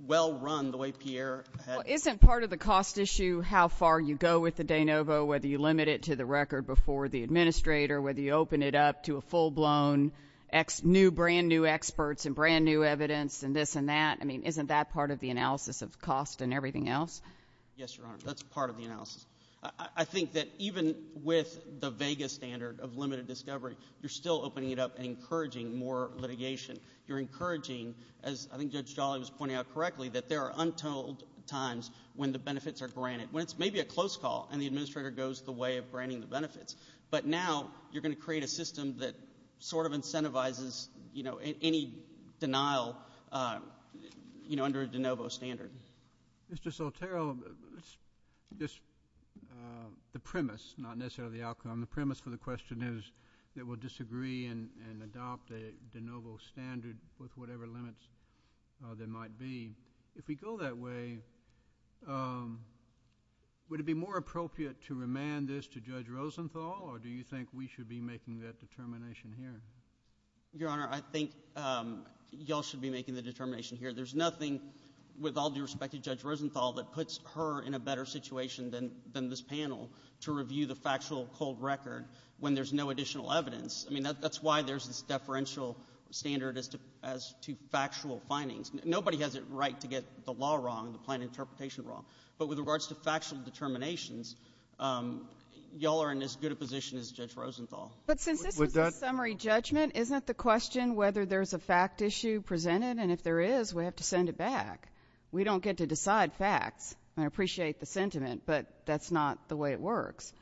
well run the way Pierre had— Well, isn't part of the cost issue how far you go with the de novo, whether you limit it to the record before the administrator, whether you open it up to a full-blown brand-new experts and brand-new evidence and this and that? I mean, isn't that part of the analysis of cost and everything else? Yes, Your Honor. That's part of the analysis. I think that even with the vega standard of limited discovery, you're still opening it up and encouraging more litigation. You're encouraging, as I think Judge Jolly was pointing out correctly, that there are untold times when the benefits are granted, but now you're going to create a system that sort of incentivizes any denial under a de novo standard. Mr. Soltero, the premise, not necessarily the outcome, the premise for the question is that we'll disagree and adopt a de novo standard with whatever limits there might be. If we go that way, would it be more appropriate to remand this to Judge Rosenthal or do you think we should be making that determination here? Your Honor, I think you all should be making the determination here. There's nothing, with all due respect to Judge Rosenthal, that puts her in a better situation than this panel to review the factual cold record when there's no additional evidence. I mean, that's why there's this deferential standard as to factual findings. Nobody has a right to get the law wrong, the plain interpretation wrong. But with regards to factual determinations, you all are in as good a position as Judge Rosenthal. But since this is a summary judgment, isn't it the question whether there's a fact issue presented? And if there is, we have to send it back. We don't get to decide facts. I appreciate the sentiment, but that's not the way it works.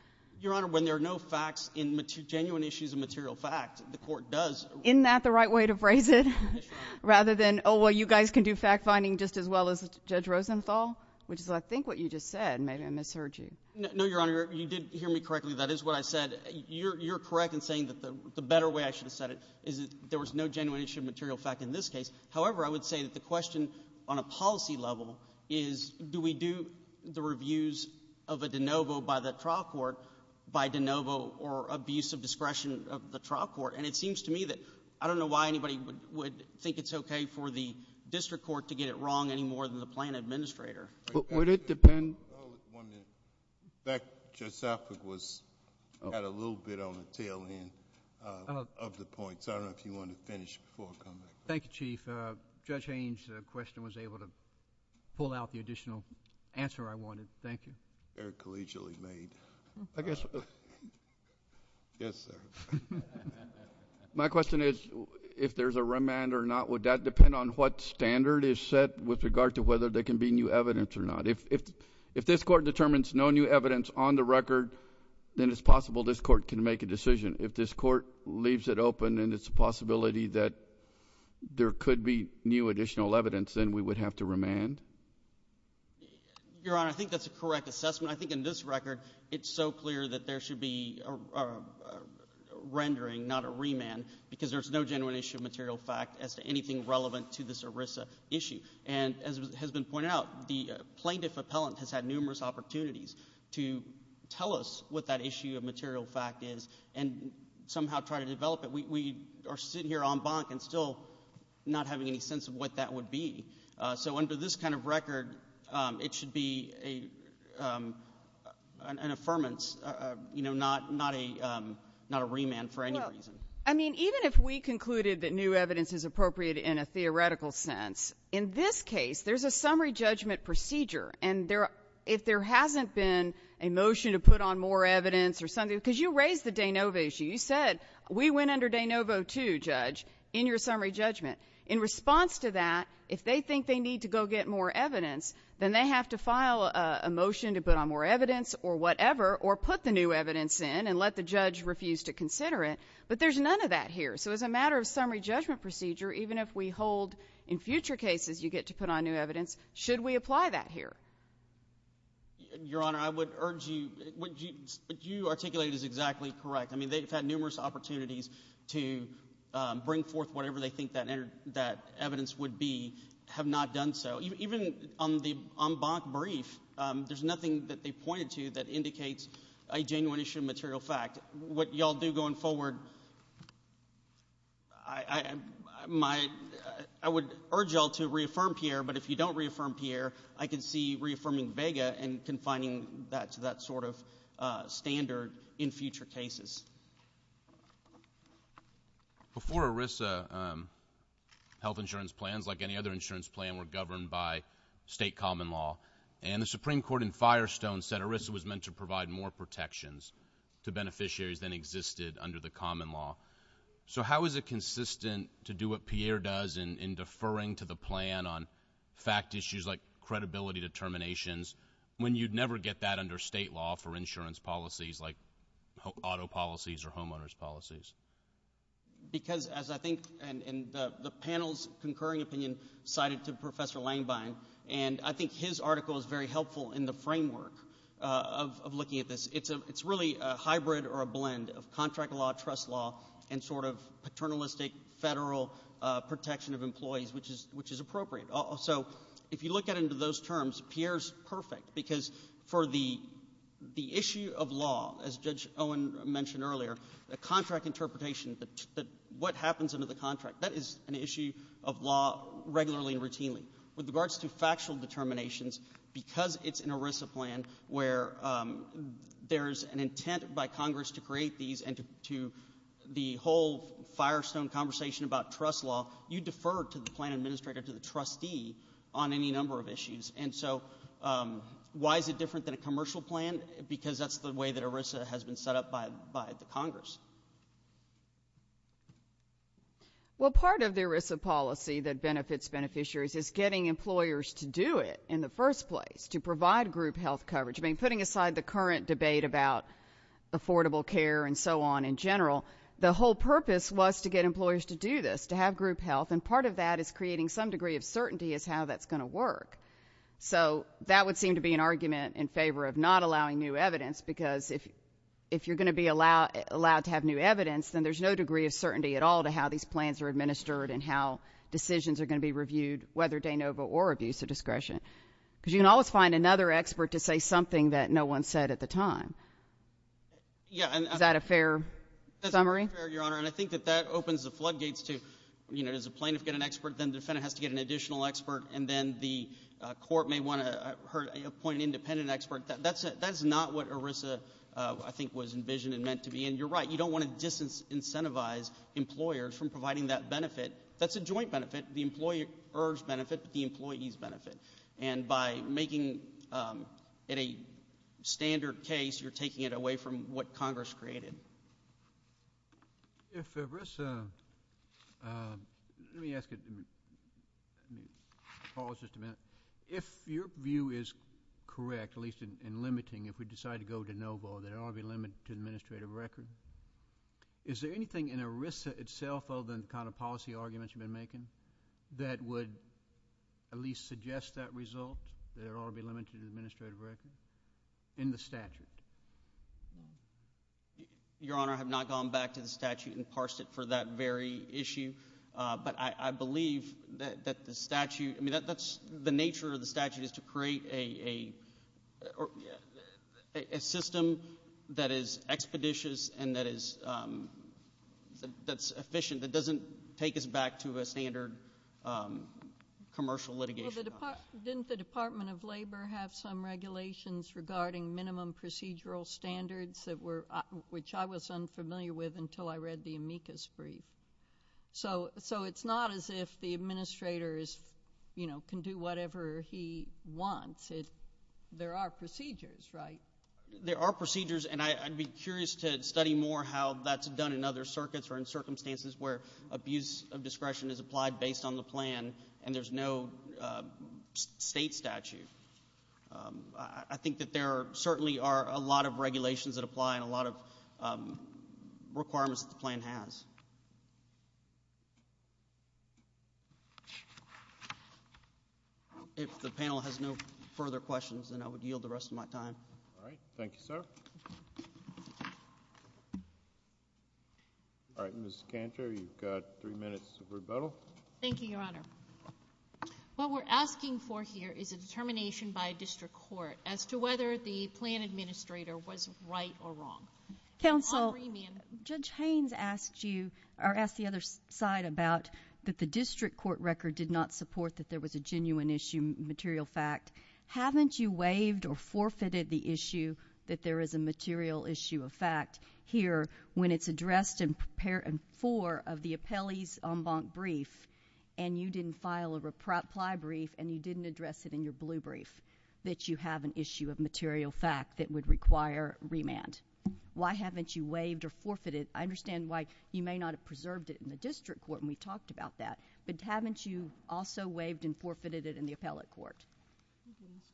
Your Honor, when there are no facts in genuine issues of material fact, the Court does— Isn't that the right way to phrase it? Yes, Your Honor. Rather than, oh, well, you guys can do fact finding just as well as Judge Rosenthal, which is I think what you just said. Maybe I misheard you. No, Your Honor. You did hear me correctly. That is what I said. You're correct in saying that the better way I should have said it is that there was no genuine issue of material fact in this case. However, I would say that the question on a policy level is do we do the reviews of a de novo by the trial court by de novo or abuse of discretion of the trial court? And it seems to me that I don't know why anybody would think it's okay for the district court to get it wrong any more than the plan administrator. Would it depend— One minute. In fact, Judge Southwick had a little bit on the tail end of the point, so I don't know if you want to finish before I come back. Thank you, Chief. Judge Haynes' question was able to pull out the additional answer I wanted. Thank you. Very collegially made. I guess— Yes, sir. My question is if there's a remand or not, would that depend on what standard is set with regard to whether there can be new evidence or not? If this court determines no new evidence on the record, then it's possible this court can make a decision. If this court leaves it open and it's a possibility that there could be new additional evidence, then we would have to remand? Your Honor, I think that's a correct assessment. I think in this record it's so clear that there should be a rendering, not a remand, because there's no genuine issue of material fact as to anything relevant to this ERISA issue. And as has been pointed out, the plaintiff appellant has had numerous opportunities to tell us what that issue of material fact is and somehow try to develop it. We are sitting here en banc and still not having any sense of what that would be. So under this kind of record, it should be an affirmance, not a remand for any reason. No. I mean, even if we concluded that new evidence is appropriate in a theoretical sense, in this case there's a summary judgment procedure. And if there hasn't been a motion to put on more evidence or something, because you raised the de novo issue. You said we went under de novo too, Judge, in your summary judgment. In response to that, if they think they need to go get more evidence, then they have to file a motion to put on more evidence or whatever or put the new evidence in and let the judge refuse to consider it. But there's none of that here. So as a matter of summary judgment procedure, even if we hold in future cases you get to put on new evidence, should we apply that here? Your Honor, I would urge you, what you articulated is exactly correct. I mean, they've had numerous opportunities to bring forth whatever they think that evidence would be, have not done so. Even on the bonk brief, there's nothing that they pointed to that indicates a genuine issue of material fact. What you all do going forward, I would urge you all to reaffirm Pierre, Before ERISA, health insurance plans, like any other insurance plan, were governed by state common law. And the Supreme Court in Firestone said ERISA was meant to provide more protections to beneficiaries than existed under the common law. So how is it consistent to do what Pierre does in deferring to the plan on fact issues like credibility determinations when you'd never get that under state law for insurance policies like auto policies or homeowners policies? Because as I think, and the panel's concurring opinion cited to Professor Langbein, and I think his article is very helpful in the framework of looking at this. It's really a hybrid or a blend of contract law, trust law, and sort of paternalistic federal protection of employees, which is appropriate. So if you look at it under those terms, Pierre's perfect because for the issue of law, as Judge Owen mentioned earlier, the contract interpretation, what happens under the contract, that is an issue of law regularly and routinely. With regards to factual determinations, because it's an ERISA plan where there's an intent by Congress to create these and to the whole Firestone conversation about trust law, you defer to the plan administrator, to the trustee on any number of issues. And so why is it different than a commercial plan? Because that's the way that ERISA has been set up by the Congress. Well, part of the ERISA policy that benefits beneficiaries is getting employers to do it in the first place, to provide group health coverage. I mean, putting aside the current debate about affordable care and so on in general, the whole purpose was to get employers to do this, to have group health. And part of that is creating some degree of certainty as how that's going to work. So that would seem to be an argument in favor of not allowing new evidence, because if you're going to be allowed to have new evidence, then there's no degree of certainty at all to how these plans are administered and how decisions are going to be reviewed, whether de novo or abuse of discretion. Because you can always find another expert to say something that no one said at the time. Is that a fair summary? That's a fair, Your Honor, and I think that that opens the floodgates to, you know, does a plaintiff get an expert, then the defendant has to get an additional expert, and then the court may want to appoint an independent expert. That's not what ERISA, I think, was envisioned and meant to be. And you're right, you don't want to disincentivize employers from providing that benefit. That's a joint benefit. The employer's benefit, but the employee's benefit. And by making it a standard case, you're taking it away from what Congress created. If ERISA, let me ask you, pause just a minute. If your view is correct, at least in limiting, if we decide to go de novo, there ought to be a limit to administrative record. Is there anything in ERISA itself other than the kind of policy arguments you've been making that would at least suggest that result, that it ought to be limited to administrative record in the statute? Your Honor, I have not gone back to the statute and parsed it for that very issue, but I believe that the statute, I mean, that's the nature of the statute is to create a system that is expeditious and that's efficient, that doesn't take us back to a standard commercial litigation. Didn't the Department of Labor have some regulations regarding minimum procedural standards, which I was unfamiliar with until I read the amicus brief? So it's not as if the administrator can do whatever he wants. There are procedures, right? There are procedures, and I'd be curious to study more how that's done in other circuits or in circumstances where abuse of discretion is applied based on the plan and there's no state statute. I think that there certainly are a lot of regulations that apply and a lot of requirements that the plan has. If the panel has no further questions, then I would yield the rest of my time. All right. Thank you, sir. All right. Ms. Cantor, you've got three minutes of rebuttal. Thank you, Your Honor. What we're asking for here is a determination by a district court as to whether the plan administrator was right or wrong. Counsel, Judge Haynes asked you to determine whether the plan administrator or asked the other side about that the district court record did not support that there was a genuine issue, material fact. Haven't you waived or forfeited the issue that there is a material issue of fact here when it's addressed in four of the appellee's en banc brief and you didn't file a reply brief and you didn't address it in your blue brief, that you have an issue of material fact that would require remand? Why haven't you waived or forfeited? I understand why you may not have preserved it in the district court and we talked about that, but haven't you also waived and forfeited it in the appellate court?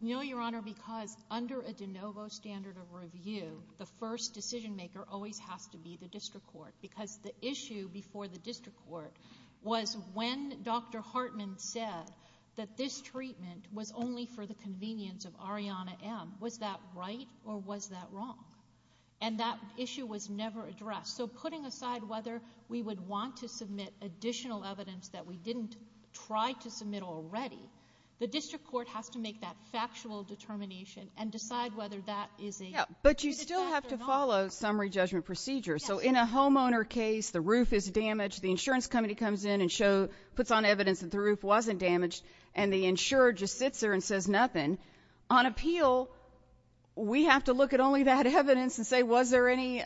No, Your Honor, because under a de novo standard of review, the first decision maker always has to be the district court because the issue before the district court was when Dr. Hartman said that this treatment was only for the convenience of Ariana M. Was that right or was that wrong? And that issue was never addressed. So putting aside whether we would want to submit additional evidence that we didn't try to submit already, the district court has to make that factual determination and decide whether that is a fact or not. But you still have to follow summary judgment procedure. So in a homeowner case, the roof is damaged, the insurance company comes in and puts on evidence that the roof wasn't damaged and the insurer just sits there and says nothing. On appeal, we have to look at only that evidence and say, was there any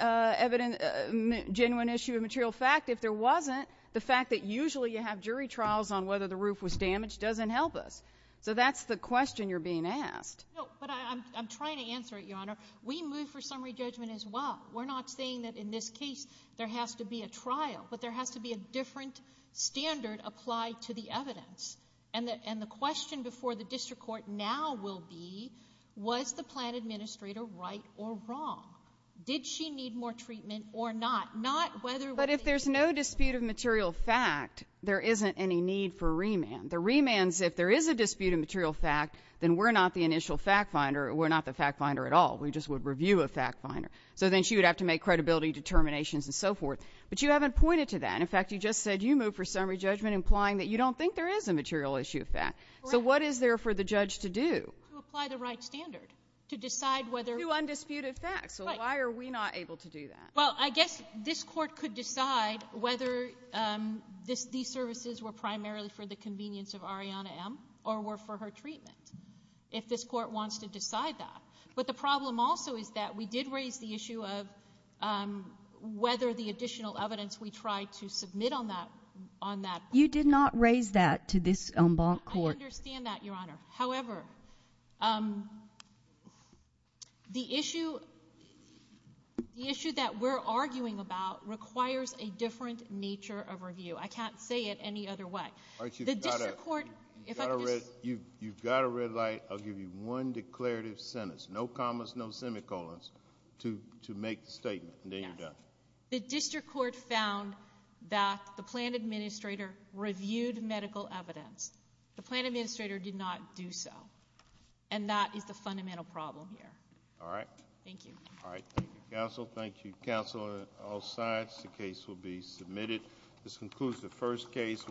genuine issue of material fact? If there wasn't, the fact that usually you have jury trials on whether the roof was damaged doesn't help us. So that's the question you're being asked. No, but I'm trying to answer it, Your Honor. We move for summary judgment as well. We're not saying that in this case there has to be a trial, but there has to be a different standard applied to the evidence. And the question before the district court now will be, was the plan administrator right or wrong? Did she need more treatment or not? But if there's no dispute of material fact, there isn't any need for remand. The remand is if there is a dispute of material fact, then we're not the initial fact finder. We're not the fact finder at all. We just would review a fact finder. So then she would have to make credibility determinations and so forth. But you haven't pointed to that. In fact, you just said you move for summary judgment implying that you don't think there is a material issue of fact. Correct. So what is there for the judge to do? To apply the right standard, to decide whether. To do undisputed facts. Right. So why are we not able to do that? Well, I guess this court could decide whether these services were primarily for the convenience of Arianna M. or were for her treatment, if this court wants to decide that. But the problem also is that we did raise the issue of whether the additional evidence we tried to submit on that point. You did not raise that to this court. I understand that, Your Honor. However, the issue that we're arguing about requires a different nature of review. I can't say it any other way. You've got a red light. I'll give you one declarative sentence, no commas, no semicolons, to make the statement, and then you're done. The district court found that the plan administrator reviewed medical evidence. The plan administrator did not do so, and that is the fundamental problem here. All right. Thank you. All right. Thank you, counsel. Thank you, counsel on all sides. The case will be submitted. This concludes the first case.